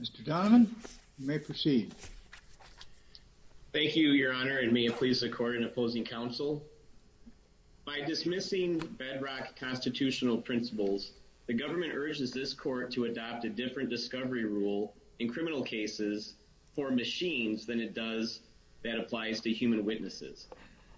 Mr. Donovan, you may proceed. Thank you, your honor, and may it please the court and opposing counsel. By dismissing bedrock constitutional principles, the government urges this court to adopt a different discovery rule in criminal cases for machines than it does that applies to human witnesses.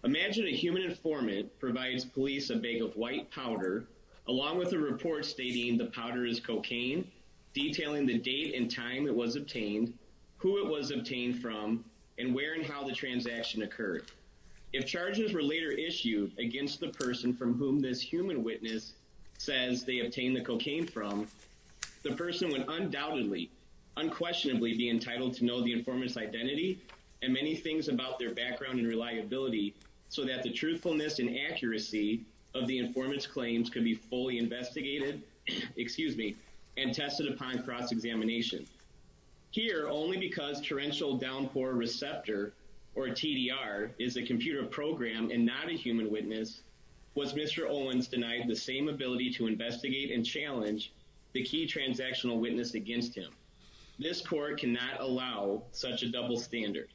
Imagine a human informant provides police a bag of white powder, along with a report stating the powder is cocaine, detailing the date and time it was obtained, who it was obtained from, and where and how the transaction occurred. If charges were later issued against the person from whom this human witness says they obtained the cocaine from, the person would undoubtedly, unquestionably be entitled to know the informant's identity and many things about their background and reliability so that the truthfulness and claims can be fully investigated, excuse me, and tested upon cross-examination. Here, only because torrential downpour receptor, or TDR, is a computer program and not a human witness, was Mr. Owens denied the same ability to investigate and challenge the key transactional witness against him. This court cannot allow such a double standard.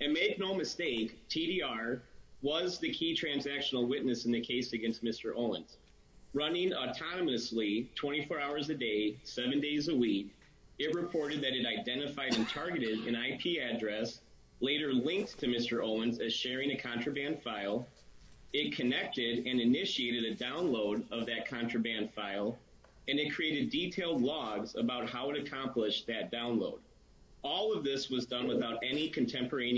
And make no mistake, TDR was the key transactional witness in the case against Mr. Owens. Running autonomously, 24 hours a day, 7 days a week, it reported that it identified and targeted an IP address, later linked to Mr. Owens as sharing a contraband file, it connected and initiated a download of that contraband file, and it created detailed logs about how it accomplished that download. All of this was done without any information.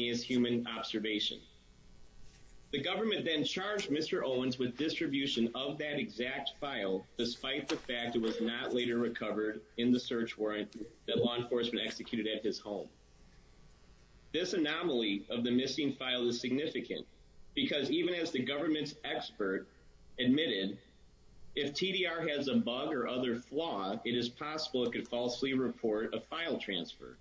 It charged Mr. Owens with distribution of that exact file, despite the fact it was not later recovered in the search warrant that law enforcement executed at his home. This anomaly of the missing file is significant, because even as the government's expert admitted, if TDR has a bug or other flaw, it is possible it could falsely report a file transfer.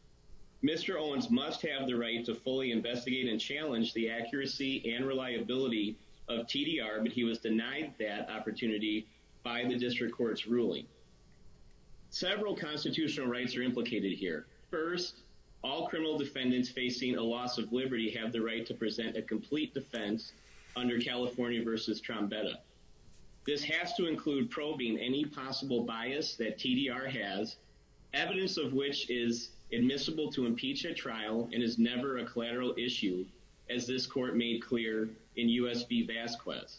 Mr. Owens must have the right to fully investigate and challenge TDR, but he was denied that opportunity by the district court's ruling. Several constitutional rights are implicated here. First, all criminal defendants facing a loss of liberty have the right to present a complete defense under California v. Trombetta. This has to include probing any possible bias that TDR has, evidence of which is admissible to impeach at trial and is never a collateral issue, as this court made clear in U.S. v. Vasquez.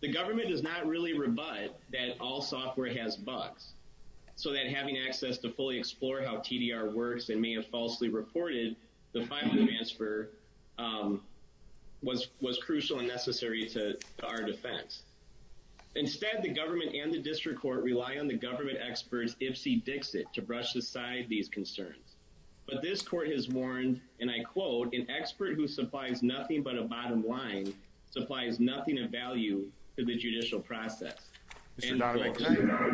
The government does not really rebut that all software has bugs, so that having access to fully explore how TDR works and may have falsely reported the file transfer was crucial and necessary to our defense. Instead, the government and the district court rely on the government experts Ipsy Dixit to brush aside these concerns. But this court has warned, and I quote, an expert who supplies nothing but a bottom line supplies nothing of value to the judicial process. Mr. Donovan,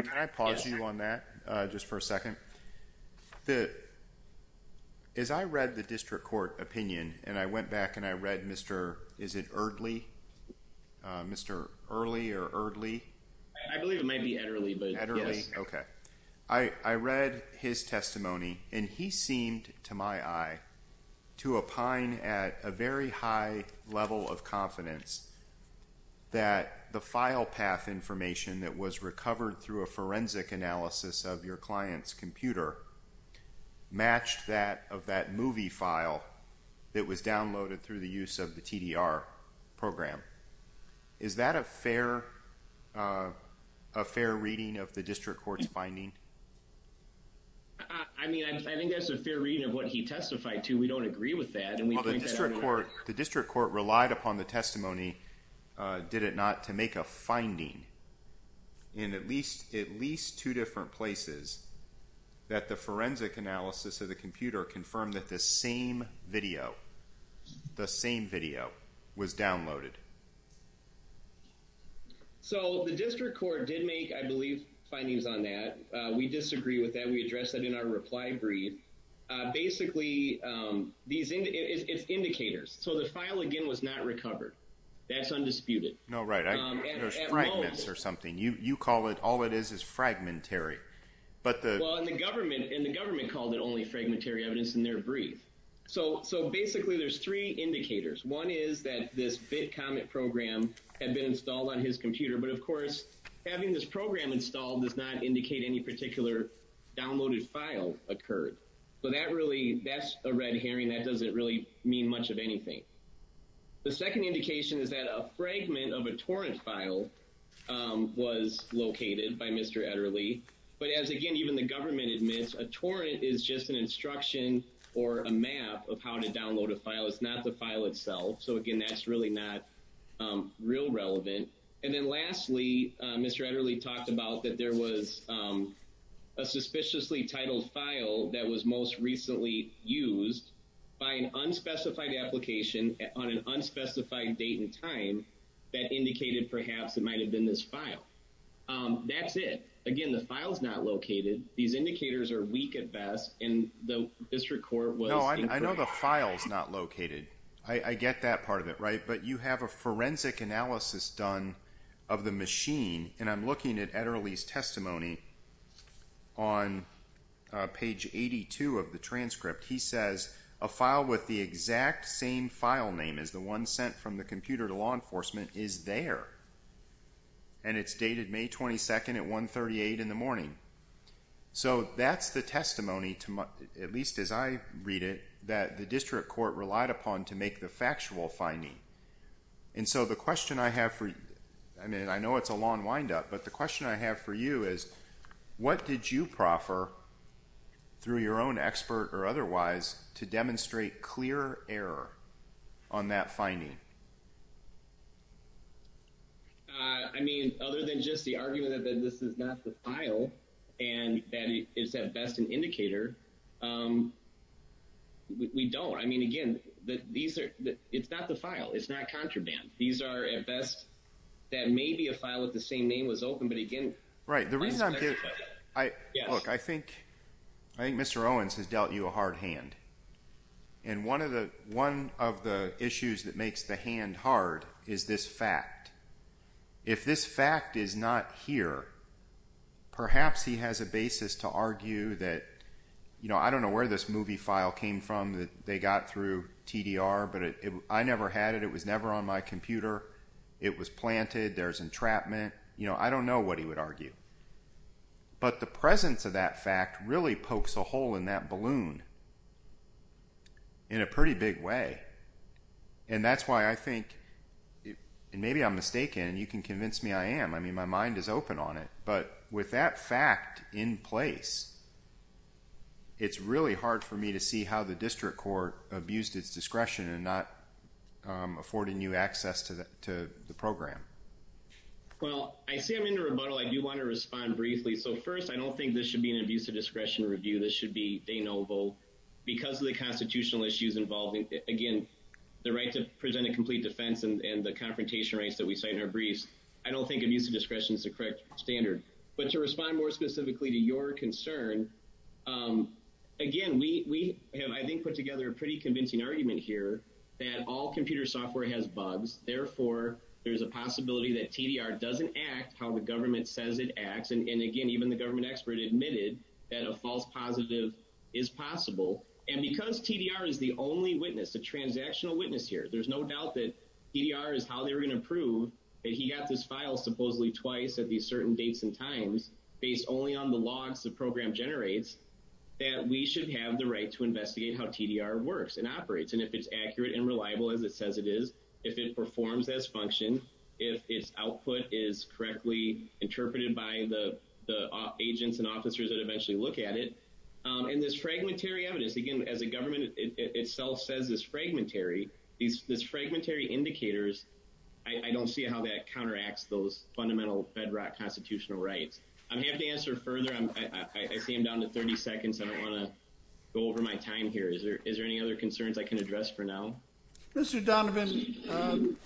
can I pause you on that just for a second? As I read the district court opinion, and I went back and I read Mr., is it Erdley? Mr. Early or Erdley? I believe it might be Erdley. Erdley? Okay. I read his testimony, and he seemed to my eye to opine at a very high level of confidence that the file path information that was recovered through a forensic analysis of your client's computer matched that of that movie file that was downloaded through the use of the TDR program. Is that a fair reading of the district court's finding? I mean, I think that's a fair reading of what he testified to. We don't agree with that. The district court relied upon the testimony, did it not, to make a finding in at least two different places that the forensic analysis of the computer confirmed that the same video, the same video, was downloaded? So the district court did make, I believe, findings on that. We disagree with that. We address that in our reply brief. Basically, it's indicators. So the file, again, was not recovered. That's undisputed. No, right. There's fragments or something. You call it, all it is is fragmentary. Well, and the government called it only fragmentary evidence in their brief. So basically, there's three indicators. One is that this BitComet program had been installed on his computer, but of course, having this program installed does not indicate any particular downloaded file occurred. So that's a red herring. That doesn't really mean much of anything. The second indication is that a fragment of a torrent file was located by Mr. Ederle. But as again, even the government admits, a torrent is just an instruction or a map of how to download a file. It's not the file itself. So again, that's really not real relevant. And then lastly, Mr. Ederle talked about that there was a suspiciously titled file that was most recently used by an unspecified application on an unspecified date and time that indicated perhaps it might have been this file. That's it. Again, the file's not located. These indicators are weak at best, and the district court was incorrect. No, I know the file's not located. I get that part of it, right? But you have a forensic analysis done of the machine, and I'm looking at Ederle's testimony on page 82 of the transcript. He says, a file with the exact same file name as the one sent from the computer to law enforcement is there. And it's dated May 22nd at 138 in the morning. So that's the testimony, at least as I read it, that the district court relied upon to make the factual finding. And so the question I have for you, I mean, I know it's a long windup, but the question I have for you is, what did you proffer, through your own expert or otherwise, to demonstrate clear error on that finding? I mean, other than just the argument that this is not the file, and that it's at best an indicator, we don't. I mean, again, it's not the file. It's not contraband. These are, at best, that may be a file with the same name was open, but again... Look, I think Mr. Owens has dealt you a hard hand. And one of the issues that makes the hand hard is this fact. If this fact is not here, perhaps he has a basis to argue that, you know, I don't know where this movie file came from that they got through TDR, but I never had it. It was never on my computer. It was planted. There's entrapment. You know, I don't know what he would argue. But the presence of that fact really pokes a hole in that balloon in a pretty big way. And that's why I think, and maybe I'm mistaken, and you can convince me I am. I mean, my mind is open on it. But with that fact in place, it's really hard for me to see how the district court abused its discretion in not affording you access to the program. Well, I see I'm in a rebuttal. I do want to respond briefly. So first, I don't think this should be an abuse of discretion review. This should be de novo. Because of the constitutional issues involving, again, the right to present a complete defense and the confrontation rights that we cite in our briefs, I don't think abuse of discretion is the correct standard. But to respond more specifically to your concern, again, we have, I think, put together a pretty convincing argument here that all computer software has bugs. Therefore, there's a possibility that TDR doesn't act how the government says it acts. And again, even the government expert admitted that a false positive is possible. And because TDR is the only witness, the transactional witness here, there's no doubt that TDR is how they're going to prove that he got this file supposedly twice at these certain dates and times, based only on the logs the program generates, that we should have the right to investigate how TDR works and operates. And if it's accurate and reliable as it says it is, if it performs as functioned, if its output is correctly interpreted by the agents and officers that eventually look at it. And this fragmentary evidence, again, as the government itself says is fragmentary, these fragmentary indicators, I don't see how that counteracts those fundamental bedrock constitutional rights. I'm happy to answer further. I see I'm down to 30 seconds. I don't want to go over my time here. Is there any other concerns I can address for now? Mr. Donovan,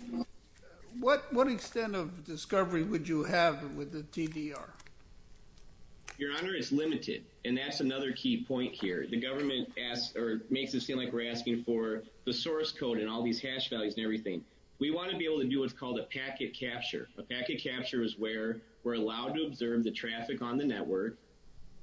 what extent of discovery would you have with the TDR? Your Honor, it's limited. And that's another key point here. The government makes it seem like we're asking for the source code and all these hash values and everything. We want to be able to do what's called a packet capture. A packet capture is where we're allowed to observe the traffic on the network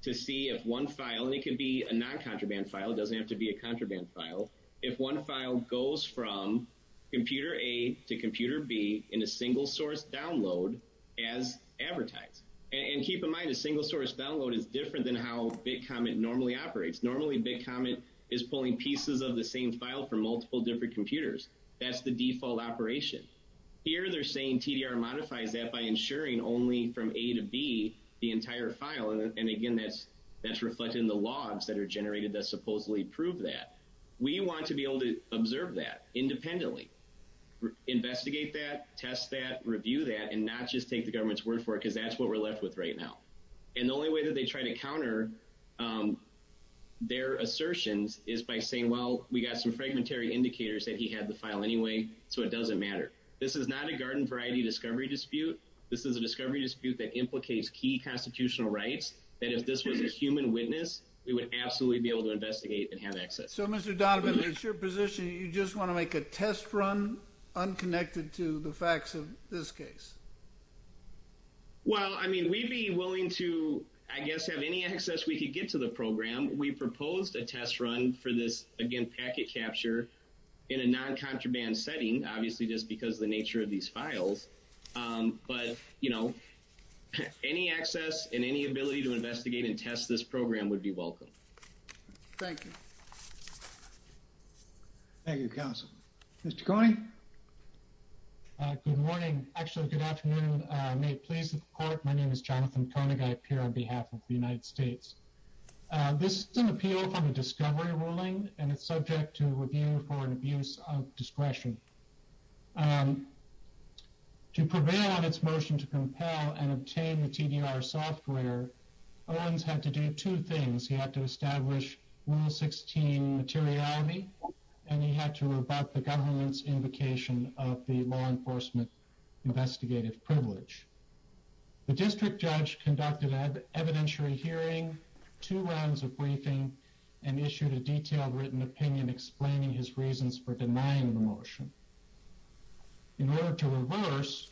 to see if one file, and it can be a non-contraband file, it doesn't have to be a contraband file, if one file goes from computer A to computer B in a single source download as advertised. And keep in mind, a single source download is different than how BitComet normally operates. Normally BitComet is pulling pieces of the same file from multiple different computers. That's the default operation. Here they're saying TDR modifies that by ensuring only from A to B the entire file. And again, that's reflected in the logs that are generated that supposedly prove that. We want to be able to observe that independently, investigate that, test that, review that, and not just take the government's word for it, because that's what we're left with right now. And the only way that they try to counter their assertions is by saying, well, we got some fragmentary indicators that he had the file anyway, so it doesn't matter. This is not a garden variety discovery dispute. This is a discovery dispute that implicates key constitutional rights, that if this was a human witness, we would absolutely be able to investigate and have access. Mr. Donovan, it's your position, you just want to make a test run unconnected to the facts of this case? Well, I mean, we'd be willing to, I guess, have any access we could get to the program. We proposed a test run for this, again, packet capture in a non-contraband setting, obviously just because of the nature of these files. But, you know, any access and any ability to investigate and test this program would be welcome. Thank you. Thank you, counsel. Mr. Coney? Good morning. Actually, good afternoon. May it please the court, my name is Jonathan Coney. I appear on behalf of the United States. This is an appeal from a discovery ruling, and it's subject to review for an abuse of discretion. To prevail on its motion to compel and obtain the TDR software, Owens had to do two things. He had to establish Rule 16 materiality, and he had to rebut the government's invocation of the law enforcement investigative privilege. The district judge conducted an evidentiary hearing, two rounds of briefing, and issued a detailed written opinion explaining his reasons for denying the motion. In order to reverse,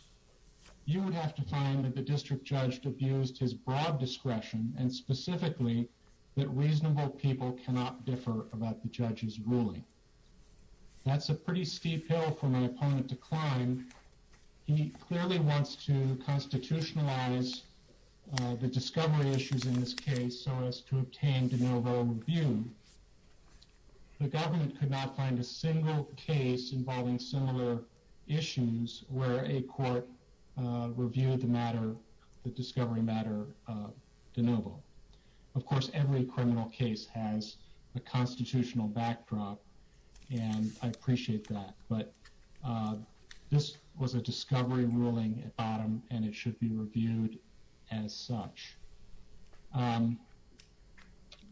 you would have to find that the district judge abused his broad discretion, and specifically, that reasonable people cannot differ about the judge's ruling. That's a pretty steep hill for my opponent to climb. He clearly wants to constitutionalize the discovery issues in this case so as to obtain de novo review. The government could not find a single case involving similar issues where a court reviewed the matter, the discovery matter, de novo. Of course, every criminal case has a constitutional backdrop, and I appreciate that. But this was a discovery ruling at bottom, and it should be reviewed as such.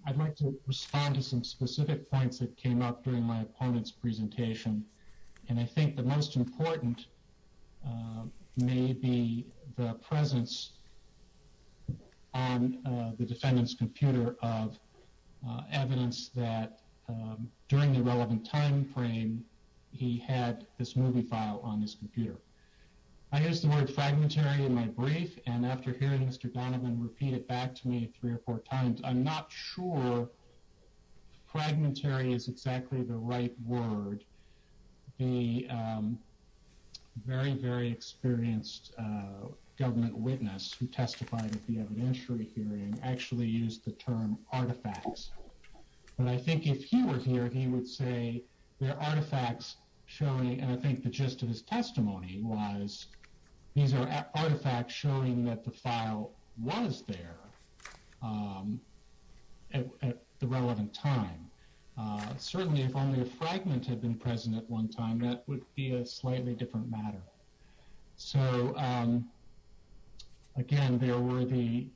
I'd like to respond to some specific points that came up during my opponent's presentation, and I think the most important may be the presence on the defendant's computer of evidence that during the relevant timeframe, he had this movie file on his computer. I used the word fragmentary in my brief, and after hearing Mr. Donovan repeat it back to me three or four times, I'm not sure fragmentary is exactly the right word. The very, very experienced government witness who testified at the evidentiary hearing actually used the term artifacts. But I think if he were here, he would say there are artifacts showing, and I think the gist of his testimony was these are artifacts showing that the file was there at the relevant time. Certainly if only a fragment had been present at one time, that would be a slightly different matter. So again, there were the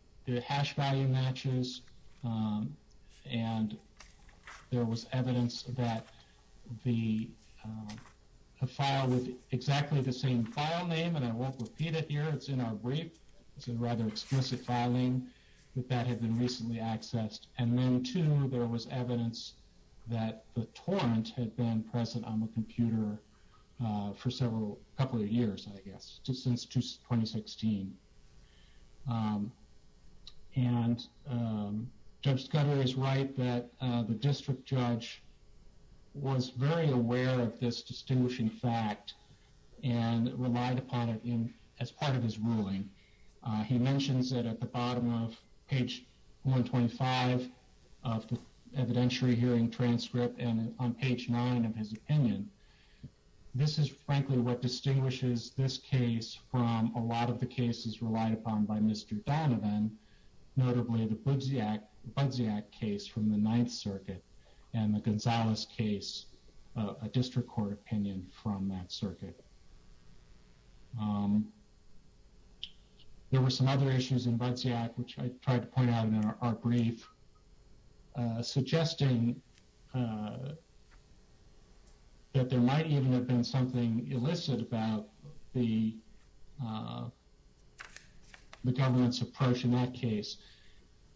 hash value matches, and there was evidence that the file with exactly the same file name, and I won't repeat it here, it's in our brief, it's a rather explicit filing, that that had been recently accessed. And then too, there was evidence that the torrent had been present on the computer for several, a couple of years, I guess, since 2016. And Judge Scudder is right that the district judge was very aware of this distinguishing fact and relied upon it as part of his ruling. He mentions it at the bottom of page 125 of the evidentiary hearing transcript and on page 9 of his opinion. This is frankly what distinguishes this case from a lot of the cases relied upon by Mr. Donovan, notably the Budziak case from the Ninth Circuit and the Gonzalez case, a district court opinion from that circuit. There were some other issues in Budziak, which I tried to point out in our brief, suggesting that there might even have been something illicit about the government's approach in that case.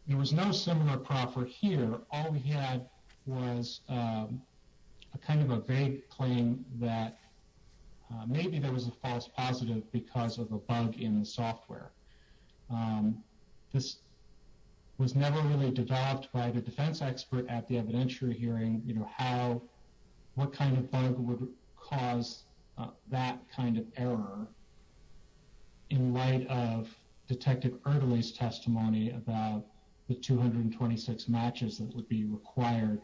There was no similar proffer here. All we had was a kind of a vague claim that maybe there was a false positive because of a bug in the software. This was never really developed by the defense expert at the evidentiary hearing, you know, how, what kind of bug would cause that kind of error in light of Detective Erdely's testimony about the 226 matches that would be required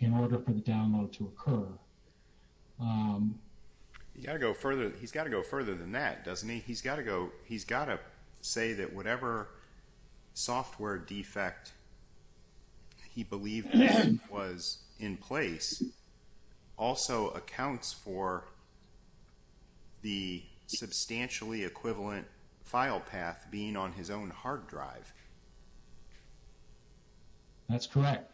in order for the download to occur. He's got to go further than that, doesn't he? He's got to go, he's got to say that whatever software defect he believed was in place also accounts for the substantially equivalent file path being on his own hard drive. That's correct.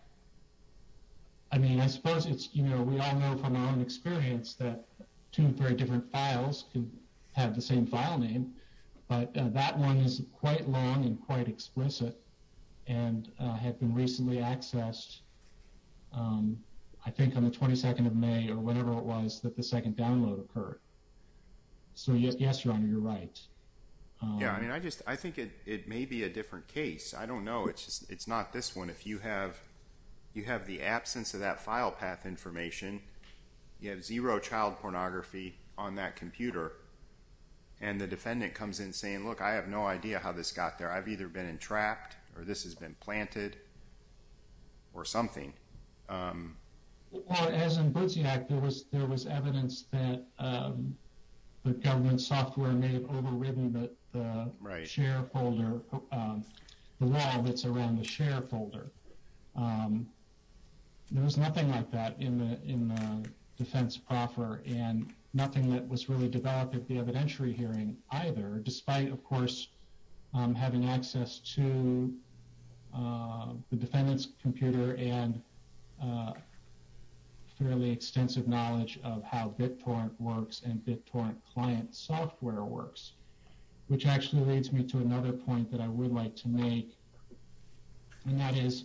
I mean, I suppose it's, you know, we all know from our own experience that two or three different files can have the same file name, but that one is quite long and quite explicit and had been recently accessed, I think on the 22nd of May or whenever it was that the second download occurred. So yes, Your Honor, you're right. Yeah, I mean, I just, I think it may be a different case. I don't know. It's just, it's not this one. If you have, you have the absence of that file path information, you have zero child pornography on that computer and the defendant comes in saying, look, I have no idea how this got there. I've either been entrapped or this has been planted or something. Well, as in Budziak, there was evidence that the government software may have overridden the share folder, the wall that's around the share folder. There was nothing like that in the defense proffer and nothing that was really developed at the evidentiary hearing either, despite, of course, having access to the defendant's computer and fairly extensive knowledge of how BitTorrent works and BitTorrent client software works, which actually leads me to another point that I would like to make, and that is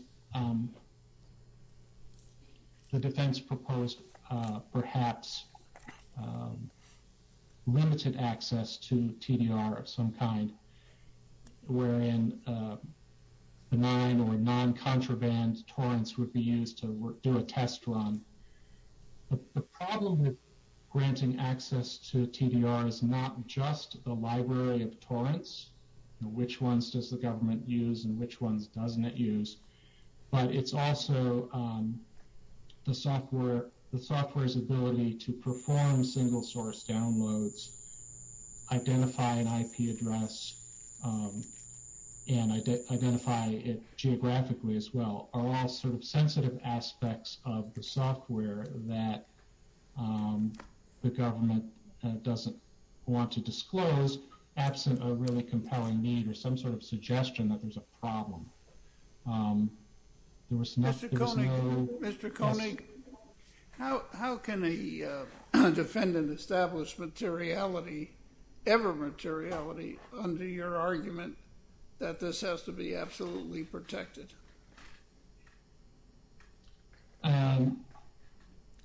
the defense proposed perhaps limited access to TDR of some kind. Where in benign or non-contraband torrents would be used to do a test run. The problem with granting access to TDR is not just the library of torrents. Which ones does the government use and which ones doesn't it use? But it's also the software, the software's ability to perform single source downloads, identify an IP address, and identify it geographically as well, are all sort of sensitive aspects of the software that the government doesn't want to disclose, absent a really compelling need or some sort of suggestion that there's a problem. There was no... Mr. Koenig, Mr. Koenig, how can a defendant establish materiality, ever materiality, under your argument that this has to be absolutely protected?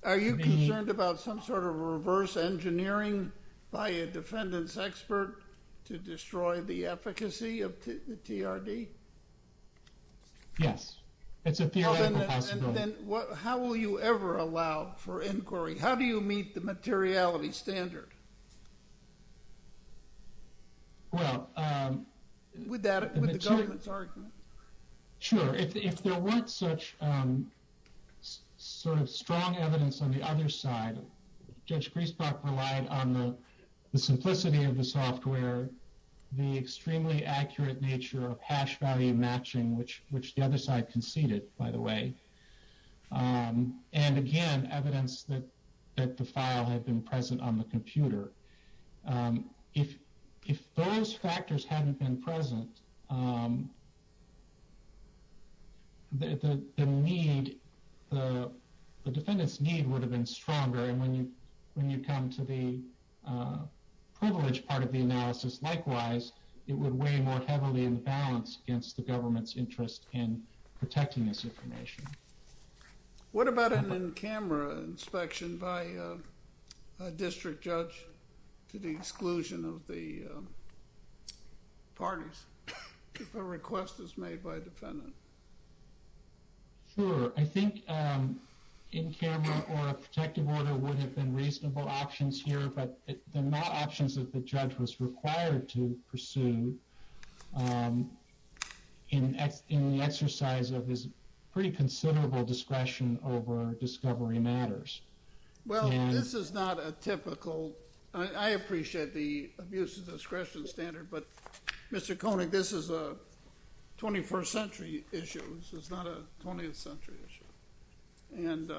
Are you concerned about some sort of reverse engineering by a defendant's expert to destroy the efficacy of the TRD? Yes. It's a theoretical possibility. Then how will you ever allow for inquiry? How do you meet the materiality standard? Well... With the government's argument? Sure. If there weren't such sort of strong evidence on the other side, Judge Griesbach relied on the simplicity of the software, where the extremely accurate nature of hash value matching, which the other side conceded, by the way, and again, evidence that the file had been present on the computer. If those factors hadn't been present, the need, the defendant's need would have been stronger. And when you come to the privileged part of the analysis, likewise, it would weigh more heavily in the balance against the government's interest in protecting this information. What about an in-camera inspection by a district judge to the exclusion of the parties, if a request is made by a defendant? Sure. I think in-camera or a protective order would have been reasonable options here, but they're not options that the judge was required to pursue in the exercise of his pretty considerable discretion over discovery matters. Well, this is not a typical... I appreciate the abuse of discretion standard, but Mr. Koenig, this is a 21st century issue. This is not a 20th century issue. And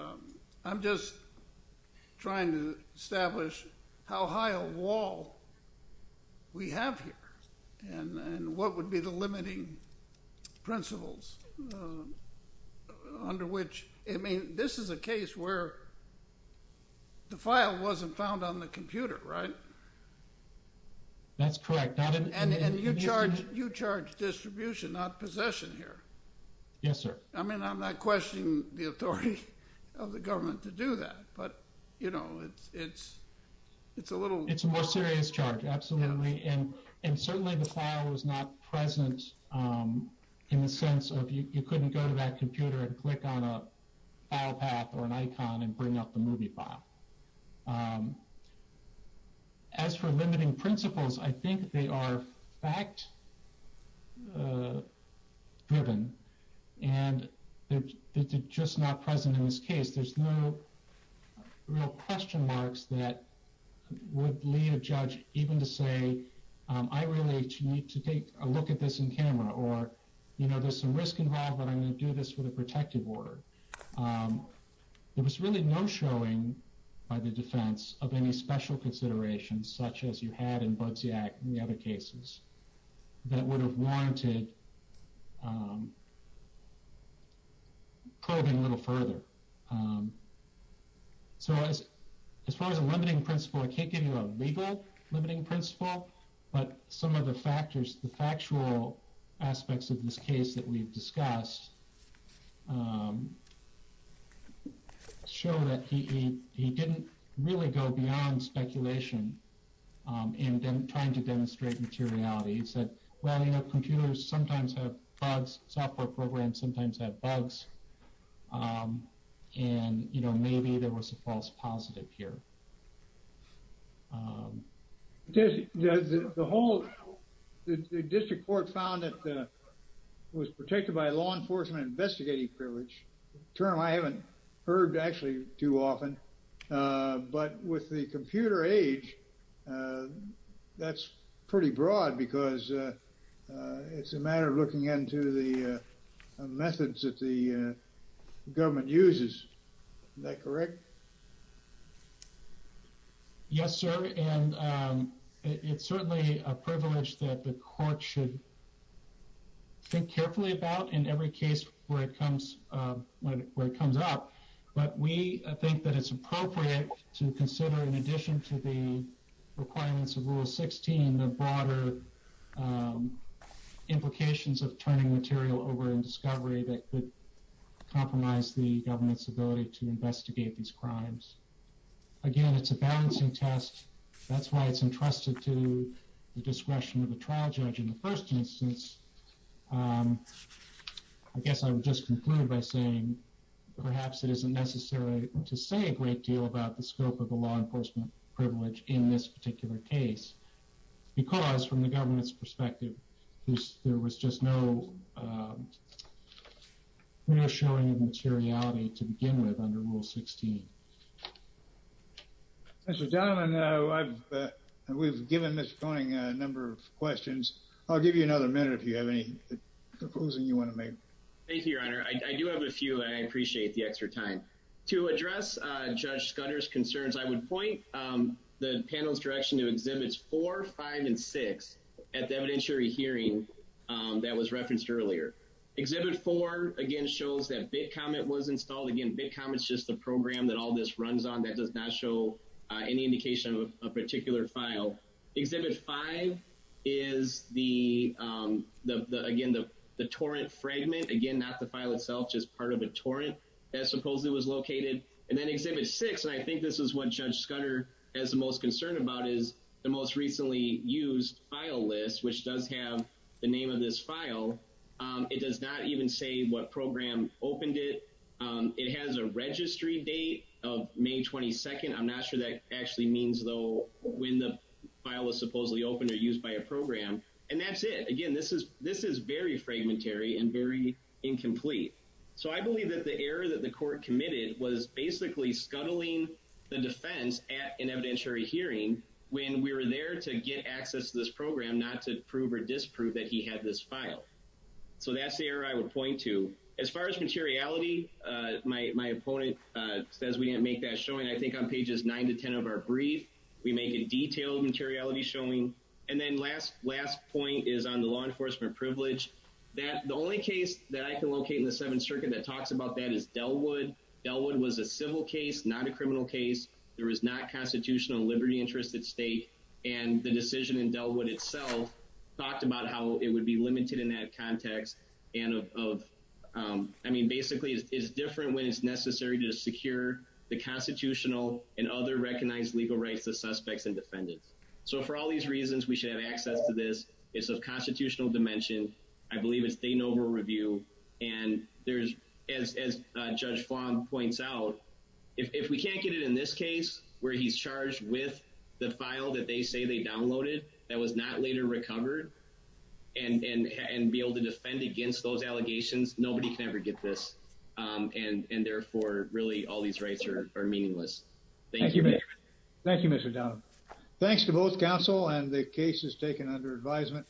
I'm just trying to establish how high a wall we have here and what would be the limiting principles under which... I mean, this is a case where the file wasn't found on the computer, right? That's correct. And you charge distribution, not possession here. Yes, sir. I mean, I'm not questioning the authority of the government to do that, but, you know, it's a little... It's a more serious charge, absolutely. And certainly the file was not present in the sense of you couldn't go to that computer and click on a file path or an icon and bring up the movie file. As for limiting principles, I think they are fact-driven and they're just not present in this case. There's no real question marks that would lead a judge even to say, I really need to take a look at this in camera, or, you know, there's some risk involved, but I'm going to do this with a protective order. There was really no showing by the defense of any special considerations such as you had in Budziak and the other cases that would have warranted probing a little further. So as far as a limiting principle, I can't give you a legal limiting principle, but some of the factors, the factual aspects of this case that we've discussed show that he didn't really go beyond speculation in trying to demonstrate materiality. He said, well, you know, computers sometimes have bugs, software programs sometimes have bugs, and, you know, maybe there was a false positive here. The whole district court found that it was protected by law enforcement investigating privilege, a term I haven't heard actually too often, but with the computer age, that's pretty broad because it's a matter of looking into the methods that the government uses. Is that correct? Yes, sir. And it's certainly a privilege that the court should think carefully about in every case where it comes up, but we think that it's appropriate to consider, in addition to the requirements of Rule 16, the broader implications of turning material over in discovery that could compromise the government's ability to investigate these crimes. Again, it's a balancing test. That's why it's entrusted to the discretion of the trial judge in the first instance. I guess I would just conclude by saying perhaps it isn't necessary to say a great deal about the scope of the law enforcement privilege in this particular case, because from the government's perspective, there was just no real showing of materiality to begin with under Rule 16. Mr. Donovan, we've given Mr. Koenig a number of questions. I'll give you another minute if you have any proposing you want to make. Thank you, Your Honor. I do have a few, and I appreciate the extra time. To address Judge Scudder's concerns, I would point the panel's direction to Exhibits 4, 5, and 6 at the evidentiary hearing that was referenced earlier. Exhibit 4, again, shows that BitComet was installed. Again, BitComet's just a program that all this runs on that does not show any indication of a particular file. Exhibit 5 is, again, the torrent fragment. Again, not the file itself, just part of a torrent that supposedly was located. And then Exhibit 6, and I think this is what Judge Scudder has the most concern about, is the most recently used file list, which does have the name of this file. It does not even say what program opened it. It has a registry date of May 22nd. I'm not sure that actually means, though, when the file was supposedly opened or used by a program. And that's it. Again, this is very fragmentary and very incomplete. So I believe that the error that the court committed was basically scuttling the defense at an evidentiary hearing when we were there to get access to this program, not to prove or disprove that he had this file. So that's the error I would point to. As far as materiality, my opponent says we didn't make that showing. I think on pages 9 to 10 of our brief, we make a detailed materiality showing. And then last point is on the law enforcement privilege. The only case that I can locate in the Seventh Circuit that talks about that is Delwood. Delwood was a civil case, not a criminal case. There was not constitutional liberty interest at stake. And the decision in Delwood itself talked about how it would be limited in that context. I mean, basically, it's different when it's necessary to secure the constitutional and other recognized legal rights of suspects and defendants. So for all these reasons, we should have access to this. It's of constitutional dimension. I believe it's state and overall review. And as Judge Fong points out, if we can't get it in this case, where he's charged with the file that they say they downloaded that was not later recovered and be able to defend against those allegations, nobody can ever get this. And therefore, really, all these rights are meaningless. Thank you. Thank you, Mr. Donald. Thanks to both counsel and the cases taken under advisement.